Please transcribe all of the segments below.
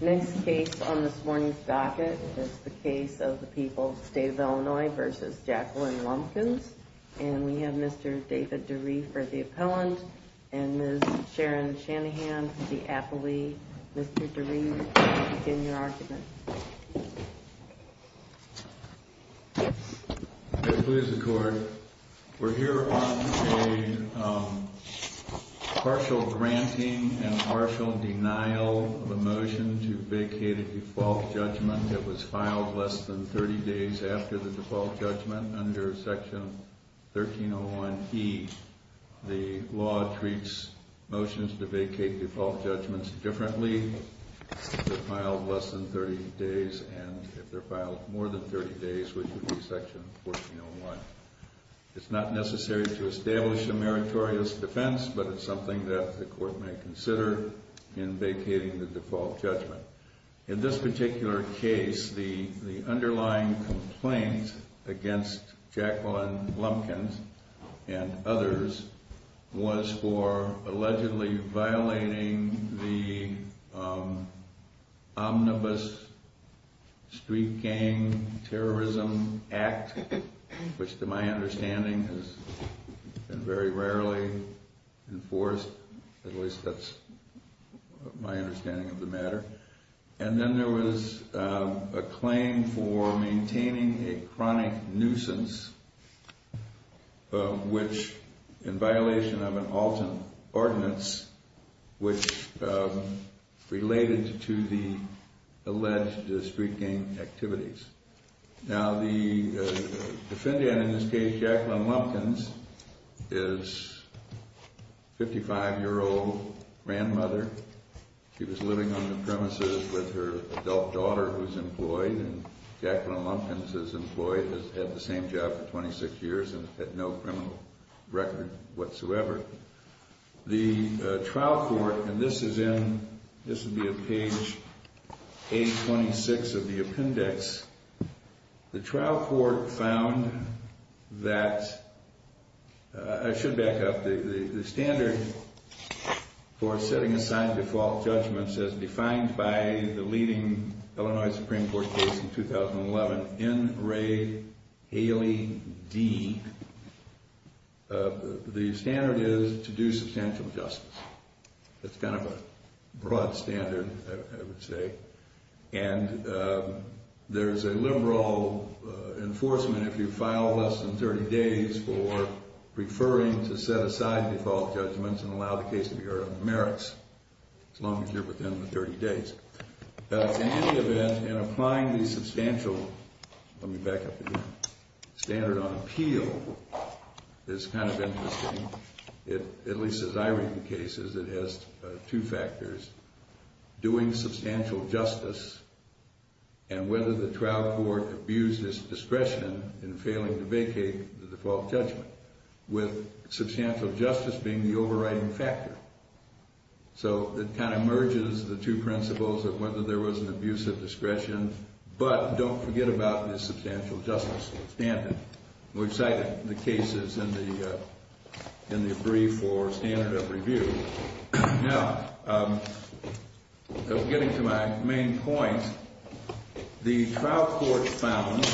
Next case on this morning's docket is the case of the people of the state of Illinois v. Jacqueline Lumpkins. And we have Mr. David DeRee for the appellant and Ms. Sharon Shanahan for the appellee. Mr. DeRee, begin your argument. We're here on a partial granting and partial denial of a motion to vacate a default judgment that was filed less than 30 days after the default judgment under Section 1301E. The law treats motions to vacate default judgments differently if they're filed less than 30 days and if they're filed more than 30 days, which would be Section 1401. It's not necessary to establish a meritorious defense, but it's something that the court may consider in vacating the default judgment. In this particular case, the underlying complaint against Jacqueline Lumpkins and others was for allegedly violating the Omnibus Street Gang Terrorism Act, which to my understanding has been very rarely enforced, at least that's my understanding of the matter. And then there was a claim for maintaining a chronic nuisance, which in violation of an Alton ordinance, which related to the alleged street gang activities. Now, the defendant in this case, Jacqueline Lumpkins, is a 55-year-old grandmother. She was living on the premises with her adult daughter who's employed, and Jacqueline Lumpkins is employed, has had the same job for 26 years, and had no criminal record whatsoever. The trial court, and this is in, this would be at page 826 of the appendix, the trial court found that, I should back up, the standard for setting aside default judgments as defined by the leading Illinois Supreme Court case in 2011, N. Ray Haley Dean, the standard is to do substantial justice. That's kind of a broad standard, I would say. And there's a liberal enforcement if you file less than 30 days for preferring to set aside default judgments and allow the case to be heard on the merits, as long as you're within the 30 days. In any event, in applying the substantial, let me back up again, standard on appeal, is kind of interesting. At least as I read the cases, it has two factors. Doing substantial justice, and whether the trial court abused its discretion in failing to vacate the default judgment, with substantial justice being the overriding factor. So it kind of merges the two principles of whether there was an abuse of discretion, but don't forget about the substantial justice standard. We've cited the cases in the brief for standard of review. Now, getting to my main point, the trial court found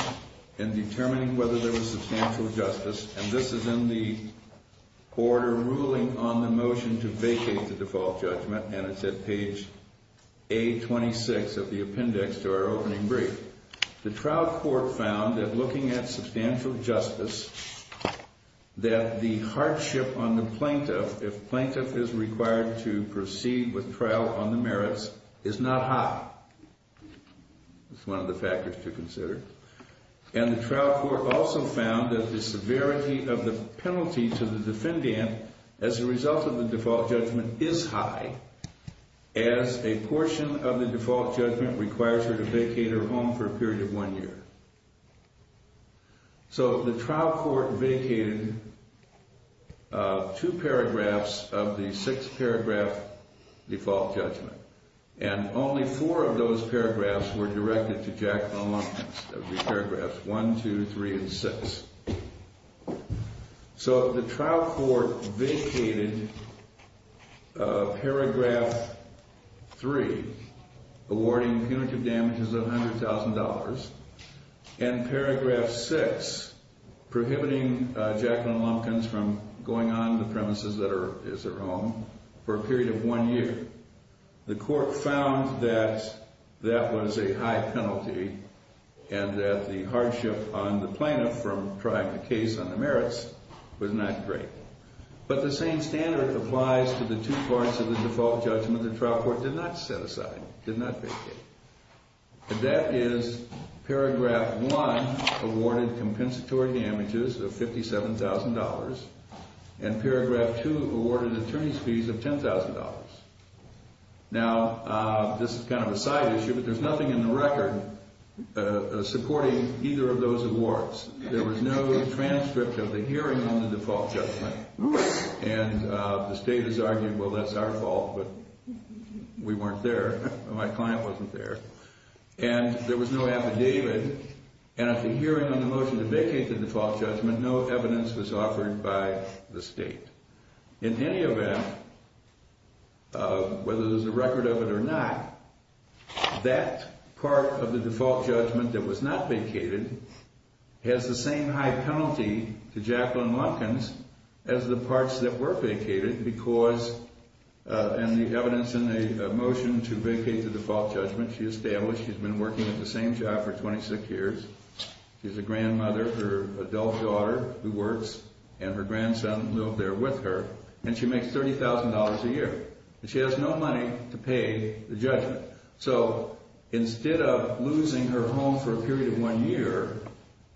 in determining whether there was substantial justice, and this is in the order ruling on the motion to vacate the default judgment, and it's at page A26 of the appendix to our opening brief. The trial court found that looking at substantial justice, that the hardship on the plaintiff, if plaintiff is required to proceed with trial on the merits, is not high. It's one of the factors to consider. And the trial court also found that the severity of the penalty to the defendant as a result of the default judgment is high, as a portion of the default judgment requires her to vacate her home for a period of one year. So the trial court vacated two paragraphs of the six-paragraph default judgment, and only four of those paragraphs were directed to Jacqueline Lundquist, of the paragraphs one, two, three, and six. So the trial court vacated paragraph three, awarding punitive damages of $100,000, and paragraph six, prohibiting Jacqueline Lundquist from going on the premises that is her home for a period of one year. The court found that that was a high penalty, and that the hardship on the plaintiff from trying to case on the merits was not great. But the same standard applies to the two parts of the default judgment the trial court did not set aside, did not vacate. And that is paragraph one, awarded compensatory damages of $57,000, and paragraph two, awarded attorney's fees of $10,000. Now, this is kind of a side issue, but there's nothing in the record supporting either of those awards. There was no transcript of the hearing on the default judgment, and the state has argued, well, that's our fault, but we weren't there. My client wasn't there. And there was no affidavit, and at the hearing on the motion to vacate the default judgment, no evidence was offered by the state. In any event, whether there's a record of it or not, that part of the default judgment that was not vacated has the same high penalty to Jacqueline Lundquist as the parts that were vacated, because in the evidence in the motion to vacate the default judgment, she established she's been working at the same job for 26 years. She's a grandmother, her adult daughter who works, and her grandson lived there with her, and she makes $30,000 a year. And she has no money to pay the judgment. So instead of losing her home for a period of one year,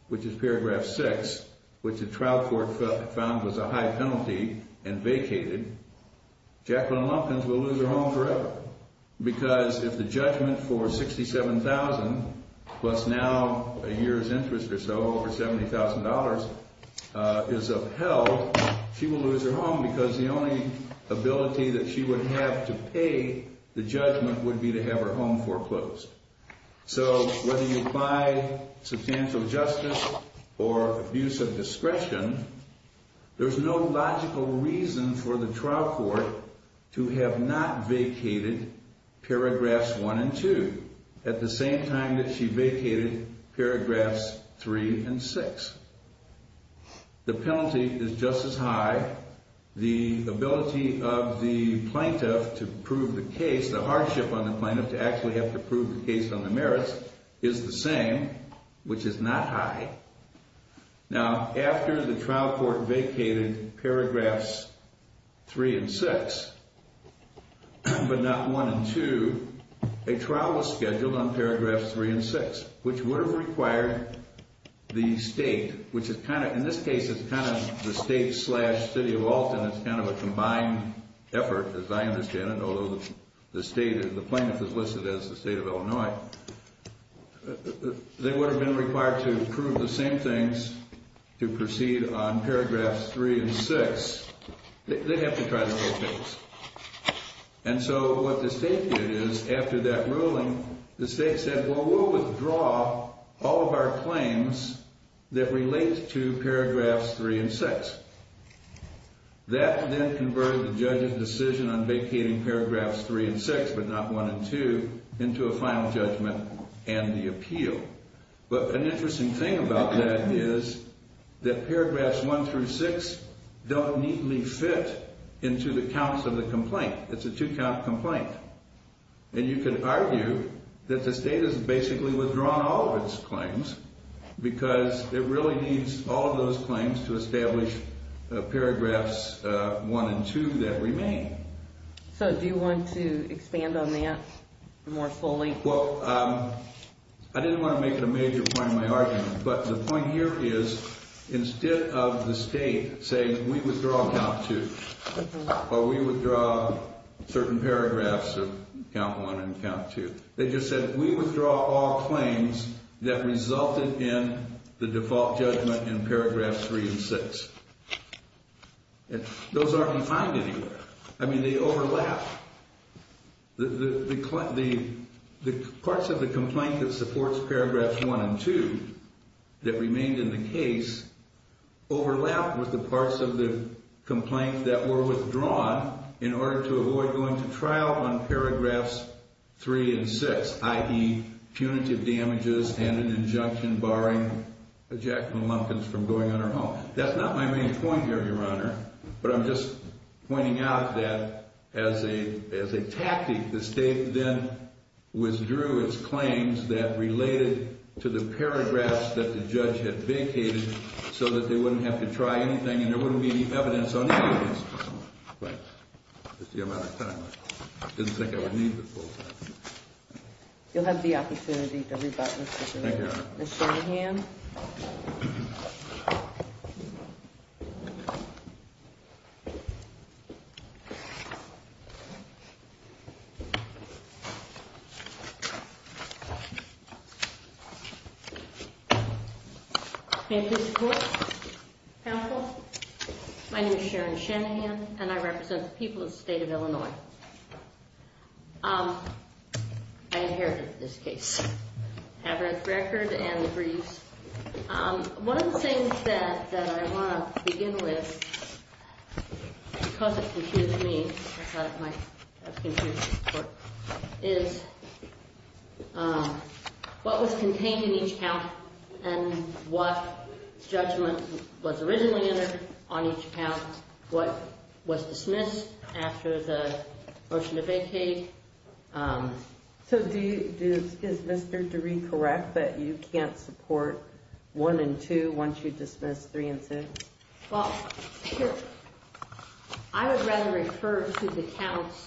which is paragraph six, which the trial court found was a high penalty and vacated, Jacqueline Lundquist will lose her home forever, because if the judgment for $67,000 plus now a year's interest or so, over $70,000, is upheld, she will lose her home because the only ability that she would have to pay the judgment would be to have her home foreclosed. So whether you apply substantial justice or abuse of discretion, there's no logical reason for the trial court to have not vacated paragraphs one and two at the same time that she vacated paragraphs three and six. The penalty is just as high. The ability of the plaintiff to prove the case, the hardship on the plaintiff to actually have to prove the case on the merits, is the same, which is not high. Now, after the trial court vacated paragraphs three and six, but not one and two, a trial was scheduled on paragraphs three and six, which would have required the state, which in this case is kind of the state slash city of Alton. It's kind of a combined effort, as I understand it, although the plaintiff is listed as the state of Illinois. They would have been required to prove the same things to proceed on paragraphs three and six. They'd have to try the whole case. And so what the state did is, after that ruling, the state said, well, we'll withdraw all of our claims that relate to paragraphs three and six. That then converted the judge's decision on vacating paragraphs three and six, but not one and two, into a final judgment and the appeal. But an interesting thing about that is that paragraphs one through six don't neatly fit into the counts of the complaint. It's a two-count complaint. And you can argue that the state has basically withdrawn all of its claims because it really needs all of those claims to establish paragraphs one and two that remain. So do you want to expand on that more fully? Well, I didn't want to make it a major point of my argument. But the point here is, instead of the state saying, we withdraw count two, or we withdraw certain paragraphs of count one and count two, they just said, we withdraw all claims that resulted in the default judgment in paragraphs three and six. Those aren't defined anywhere. I mean, they overlap. The parts of the complaint that supports paragraphs one and two that remained in the case overlap with the parts of the complaint that were withdrawn in order to avoid going to trial on paragraphs three and six, i.e., punitive damages and an injunction barring Jacqueline Lumpkins from going on her own. That's not my main point here, Your Honor. But I'm just pointing out that as a tactic, the state then withdrew its claims that related to the paragraphs that the judge had vacated so that they wouldn't have to try anything and there wouldn't be any evidence on any of these. Right. That's the amount of time. I didn't think I would need the full time. You'll have the opportunity to rebut, Mr. Gervais. Thank you, Your Honor. Ms. Shanahan. May I please report, counsel? My name is Sharon Shanahan, and I represent the people of the state of Illinois. I inherited this case. I have her record and the briefs. One of the things that I want to begin with, because it confused me, I thought it might have confused the court, is what was contained in each count and what judgment was originally entered on each count, what was dismissed after the motion to vacate. So is Mr. DeRee correct that you can't support 1 and 2 once you dismiss 3 and 6? Well, I would rather refer to the counts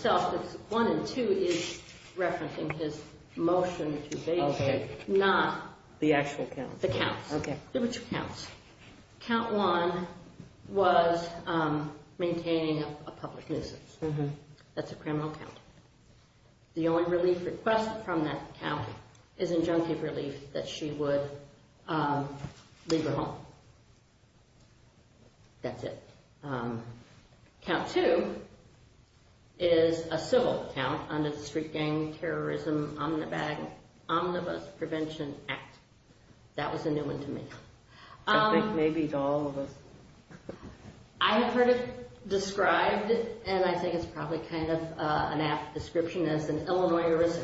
themselves. 1 and 2 is referencing his motion to vacate, not the actual counts. The counts. Okay. Count 1 was maintaining a public nuisance. That's a criminal count. The only relief requested from that count is injunctive relief that she would leave her home. That's it. Count 2 is a civil count under the Street Gang Terrorism Omnibus Prevention Act. That was a new one to me. I think maybe to all of us. I have heard it described, and I think it's probably kind of an apt description, as an Illinois risk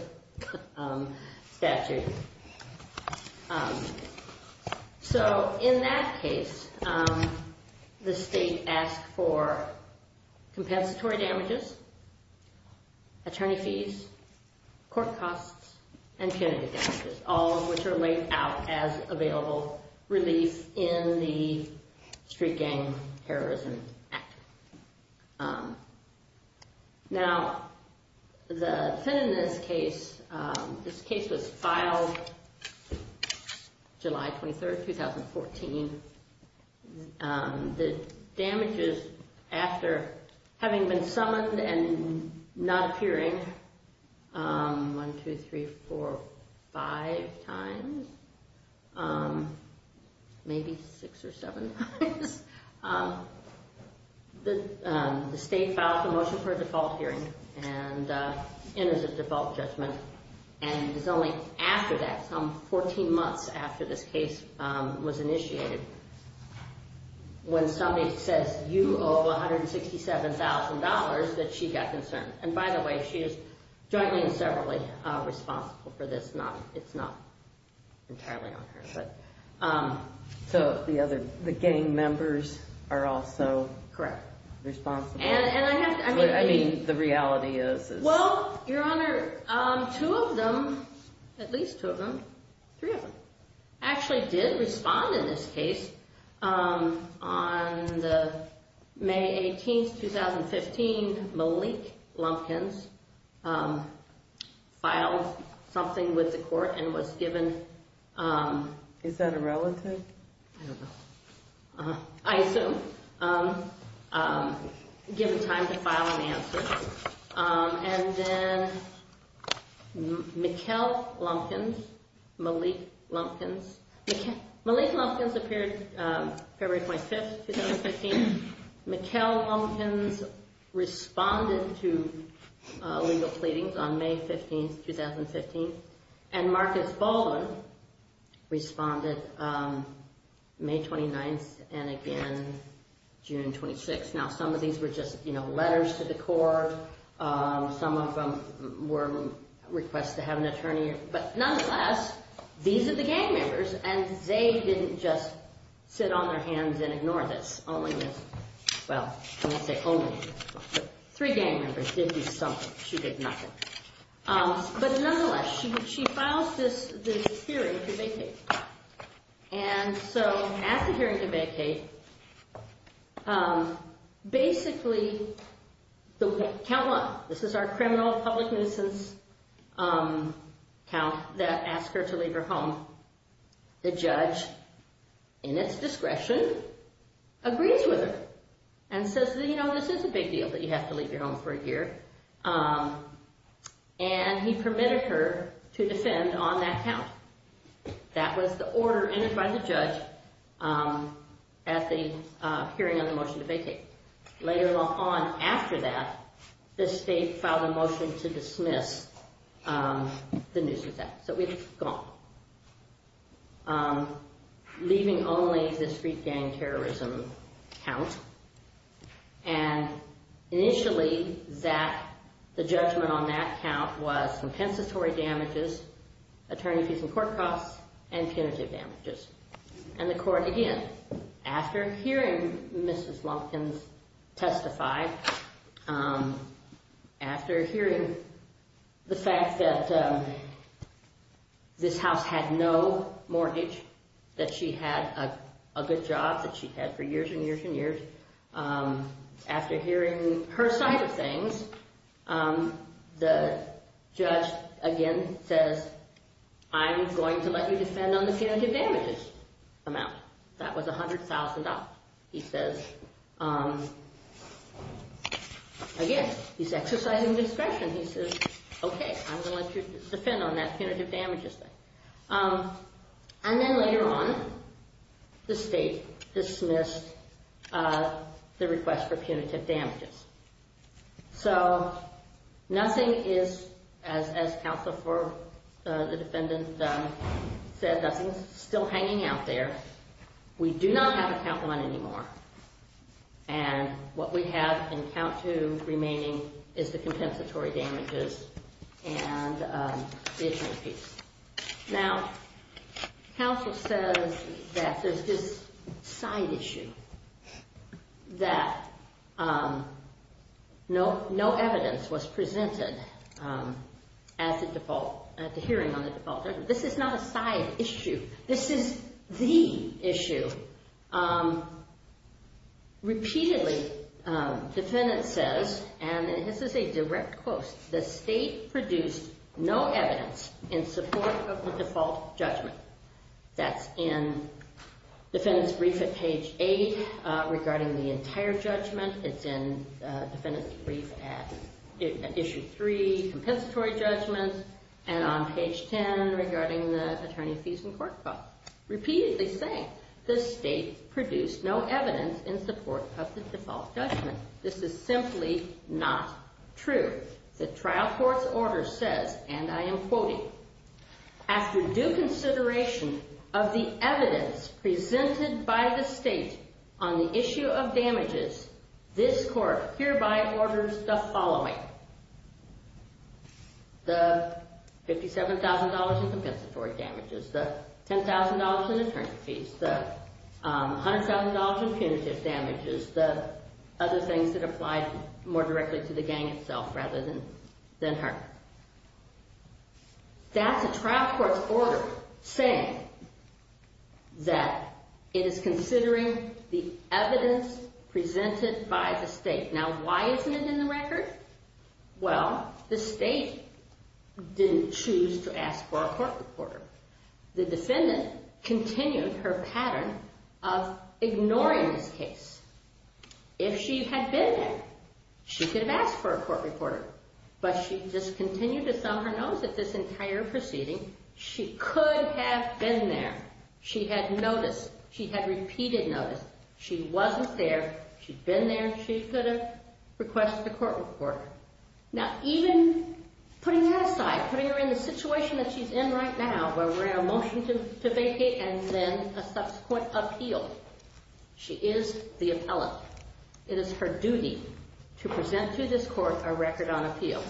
statute. So in that case, the state asked for compensatory damages, attorney fees, court costs, and punitive damages, all of which are laid out as available relief in the Street Gang Terrorism Act. Now, the defendant in this case, this case was filed July 23rd, 2014. The damages after having been summoned and not appearing 1, 2, 3, 4, 5 times, maybe 6 or 7 times, the state filed a motion for a default hearing and it is a default judgment. And it was only after that, some 14 months after this case was initiated, when somebody says, you owe $167,000, that she got concerned. And by the way, she is jointly and separately responsible for this. It's not entirely on her. So the gang members are also responsible. Correct. I mean, the reality is. Well, Your Honor, two of them, at least two of them. Three of them. Actually did respond in this case. On the May 18th, 2015, Malik Lumpkins filed something with the court and was given. Is that a relative? I don't know. I assume. Given time to file an answer. And then Mikkel Lumpkins, Malik Lumpkins, Malik Lumpkins appeared February 25th, 2015. Mikkel Lumpkins responded to legal pleadings on May 15th, 2015. And Marcus Baldwin responded May 29th and again June 26th. Now, some of these were just, you know, letters to the court. Some of them were requests to have an attorney. But nonetheless, these are the gang members and they didn't just sit on their hands and ignore this. Only this. Well, I won't say only. Three gang members did do something. But nonetheless, she filed this hearing to vacate. And so at the hearing to vacate, basically, count one. This is our criminal public nuisance count that asked her to leave her home. The judge, in its discretion, agrees with her and says, you know, this is a big deal that you have to leave your home for a year. And he permitted her to defend on that count. That was the order entered by the judge at the hearing on the motion to vacate. Later on, after that, the state filed a motion to dismiss the nuisance act. So we've gone. Leaving only the street gang terrorism count. And initially, the judgment on that count was compensatory damages, attorney fees and court costs, and punitive damages. And the court, again, after hearing Mrs. Lumpkins testify, after hearing the fact that this house had no mortgage, that she had a good job, that she had for years and years and years. After hearing her side of things, the judge, again, says, I'm going to let you defend on the punitive damages amount. That was $100,000, he says. Again, he's exercising discretion. He says, OK, I'm going to let you defend on that punitive damages thing. And then later on, the state dismissed the request for punitive damages. So nothing is, as counsel for the defendant said, nothing's still hanging out there. We do not have a count one anymore. And what we have in count two remaining is the compensatory damages and the attorney fees. Now, counsel says that there's this side issue that no evidence was presented at the hearing on the default. This is not a side issue. This is the issue. Repeatedly, defendant says, and this is a direct quote, the state produced no evidence in support of the default judgment. That's in defendant's brief at page eight regarding the entire judgment. It's in defendant's brief at issue three, compensatory judgment, and on page 10 regarding the attorney fees and court file. Repeatedly saying, the state produced no evidence in support of the default judgment. This is simply not true. The trial court's order says, and I am quoting, after due consideration of the evidence presented by the state on the issue of damages, this court hereby orders the following, the $57,000 in compensatory damages, the $10,000 in attorney fees, the $100,000 in punitive damages, the other things that apply more directly to the gang itself rather than her. That's a trial court's order saying that it is considering the evidence presented by the state. Now, why isn't it in the record? Well, the state didn't choose to ask for a court reporter. The defendant continued her pattern of ignoring this case. If she had been there, she could have asked for a court reporter. But she just continued to thumb her nose at this entire proceeding. She could have been there. She had noticed. She had repeated notice. She wasn't there. She'd been there. She could have requested a court reporter. Now, even putting that aside, putting her in the situation that she's in right now where we're in a motion to vacate and then a subsequent appeal, she is the appellant. It is her duty to present to this court a record on appeal.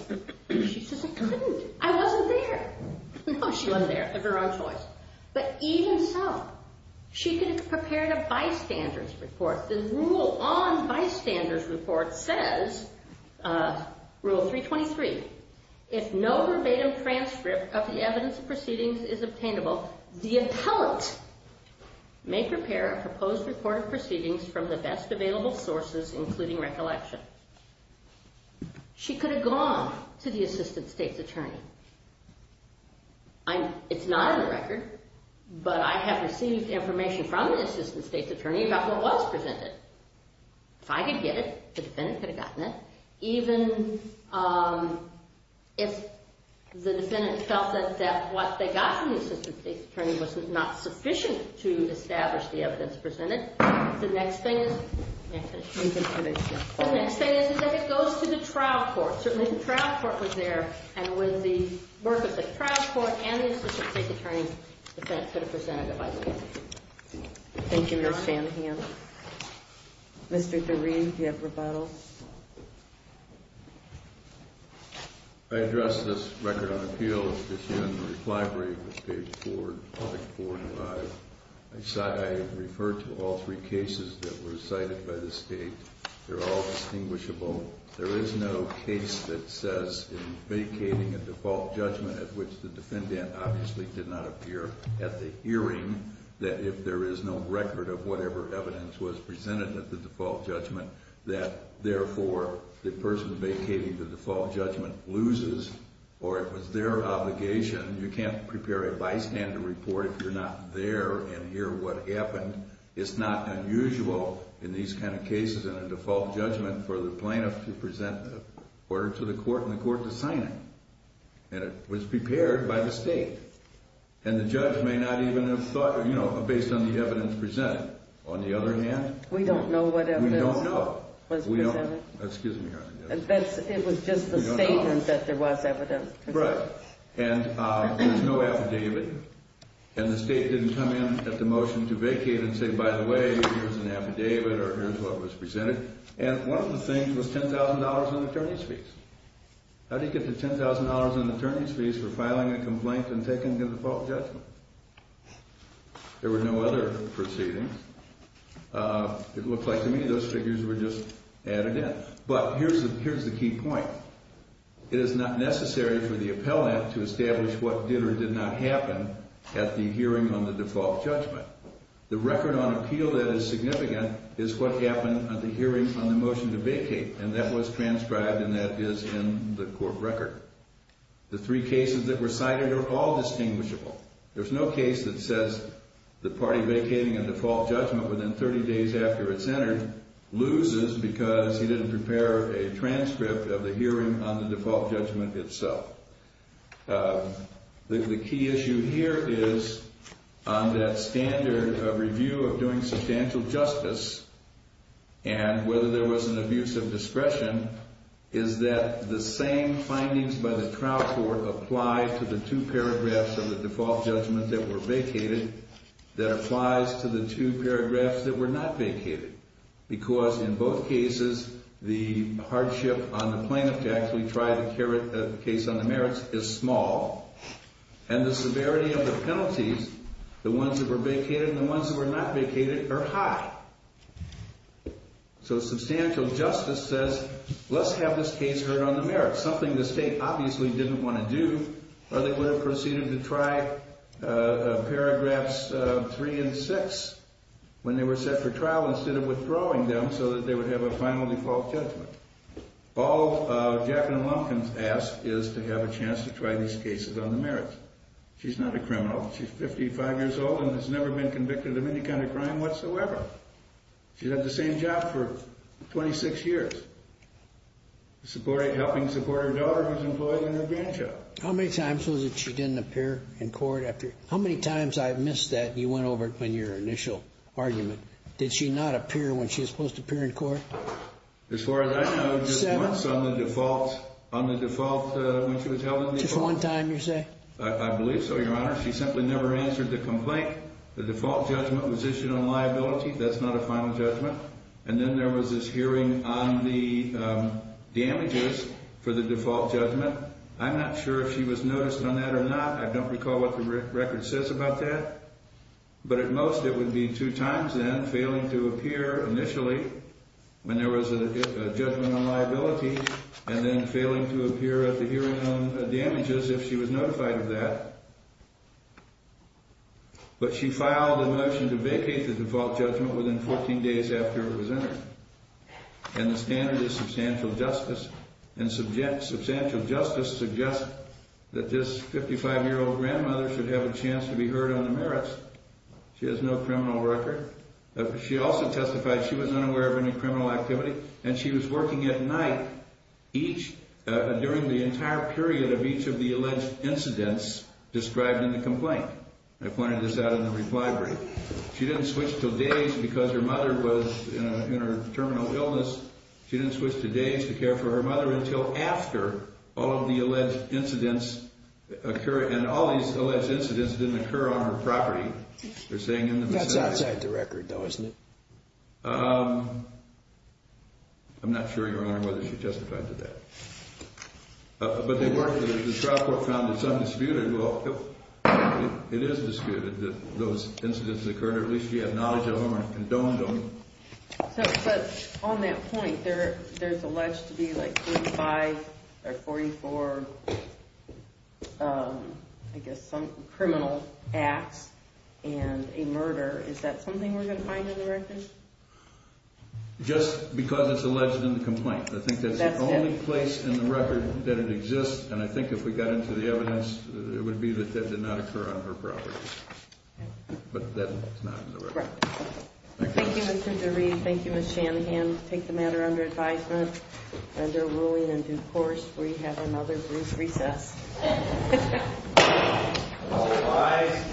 She says, I couldn't. I wasn't there. No, she wasn't there of her own choice. But even so, she could have prepared a bystander's report. The rule on bystander's report says, rule 323, if no verbatim transcript of the evidence of proceedings is obtainable, the appellant may prepare a proposed report of proceedings from the best available sources, including recollection. She could have gone to the assistant state's attorney. It's not in the record. But I have received information from the assistant state's attorney about what was presented. If I could get it, the defendant could have gotten it. Even if the defendant felt that what they got from the assistant state's attorney was not sufficient to establish the evidence presented, the next thing is if it goes to the trial court. Certainly, the trial court was there. And with the work of the trial court and the assistant state's attorney, the defendant could have presented a bystander's report. Thank you, Ms. Shanahan. Mr. DeRee, do you have rebuttal? I address this record on appeal. It's here in the reply brief, page 4, article 4 and 5. I refer to all three cases that were cited by the state. They're all distinguishable. There is no case that says in vacating a default judgment, at which the defendant obviously did not appear at the hearing, that if there is no record of whatever evidence was presented at the default judgment, that, therefore, the person vacating the default judgment loses, or it was their obligation. You can't prepare a bystander report if you're not there and hear what happened. It's not unusual in these kind of cases in a default judgment for the plaintiff to present the order to the court and the court to sign it. And it was prepared by the state. And the judge may not even have thought, you know, based on the evidence presented. On the other hand, we don't know what evidence was presented. Excuse me, Your Honor. It was just the statement that there was evidence. Right. And there's no affidavit. And the state didn't come in at the motion to vacate and say, by the way, here's an affidavit or here's what was presented. And one of the things was $10,000 in attorney's fees. How do you get the $10,000 in attorney's fees for filing a complaint and taking a default judgment? There were no other proceedings. It looks like to me those figures were just added in. But here's the key point. It is not necessary for the appellant to establish what did or did not happen at the hearing on the default judgment. The record on appeal that is significant is what happened at the hearing on the motion to vacate. And that was transcribed and that is in the court record. The three cases that were cited are all distinguishable. There's no case that says the party vacating a default judgment within 30 days after it's entered loses because he didn't prepare a transcript of the hearing on the default judgment itself. The key issue here is on that standard of review of doing substantial justice and whether there was an abuse of discretion is that the same findings by the trial court apply to the two paragraphs of the default judgment that were vacated that applies to the two paragraphs that were not vacated. Because in both cases the hardship on the plaintiff to actually try the case on the merits is small. And the severity of the penalties, the ones that were vacated and the ones that were not vacated, are high. So substantial justice says let's have this case heard on the merits, something the state obviously didn't want to do. Or they would have proceeded to try paragraphs three and six when they were set for trial instead of withdrawing them so that they would have a final default judgment. All Jacqueline Lumpkins asked is to have a chance to try these cases on the merits. She's not a criminal. She's 55 years old and has never been convicted of any kind of crime whatsoever. She's had the same job for 26 years, helping support her daughter who's employed in her grandchild. How many times was it she didn't appear in court? How many times I've missed that and you went over it in your initial argument. Did she not appear when she was supposed to appear in court? As far as I know, just once on the default when she was held on the default. Just one time, you say? I believe so, Your Honor. She simply never answered the complaint. The default judgment was issued on liability. That's not a final judgment. And then there was this hearing on the damages for the default judgment. I'm not sure if she was noticed on that or not. I don't recall what the record says about that. But at most it would be two times then, failing to appear initially when there was a judgment on liability and then failing to appear at the hearing on damages if she was notified of that. But she filed a motion to vacate the default judgment within 14 days after it was entered. And the standard is substantial justice. And substantial justice suggests that this 55-year-old grandmother should have a chance to be heard on the merits. She has no criminal record. She also testified she was unaware of any criminal activity, and she was working at night during the entire period of each of the alleged incidents described in the complaint. I pointed this out in the reply brief. She didn't switch to days because her mother was in a terminal illness. She didn't switch to days to care for her mother until after all of the alleged incidents occurred. And all these alleged incidents didn't occur on her property. That's outside the record, though, isn't it? I'm not sure, Your Honor, whether she testified to that. But the trial court found it's undisputed. It is disputed that those incidents occurred, or at least she had knowledge of them and condoned them. But on that point, there's alleged to be like 35 or 44, I guess, criminal acts and a murder. Is that something we're going to find in the record? Just because it's alleged in the complaint. I think that's the only place in the record that it exists. And I think if we got into the evidence, it would be that that did not occur on her property. But that's not in the record. Thank you, Mr. DeRee. Thank you, Ms. Shanahan. Take the matter under advisement under ruling and due course. We have another brief recess. All rise.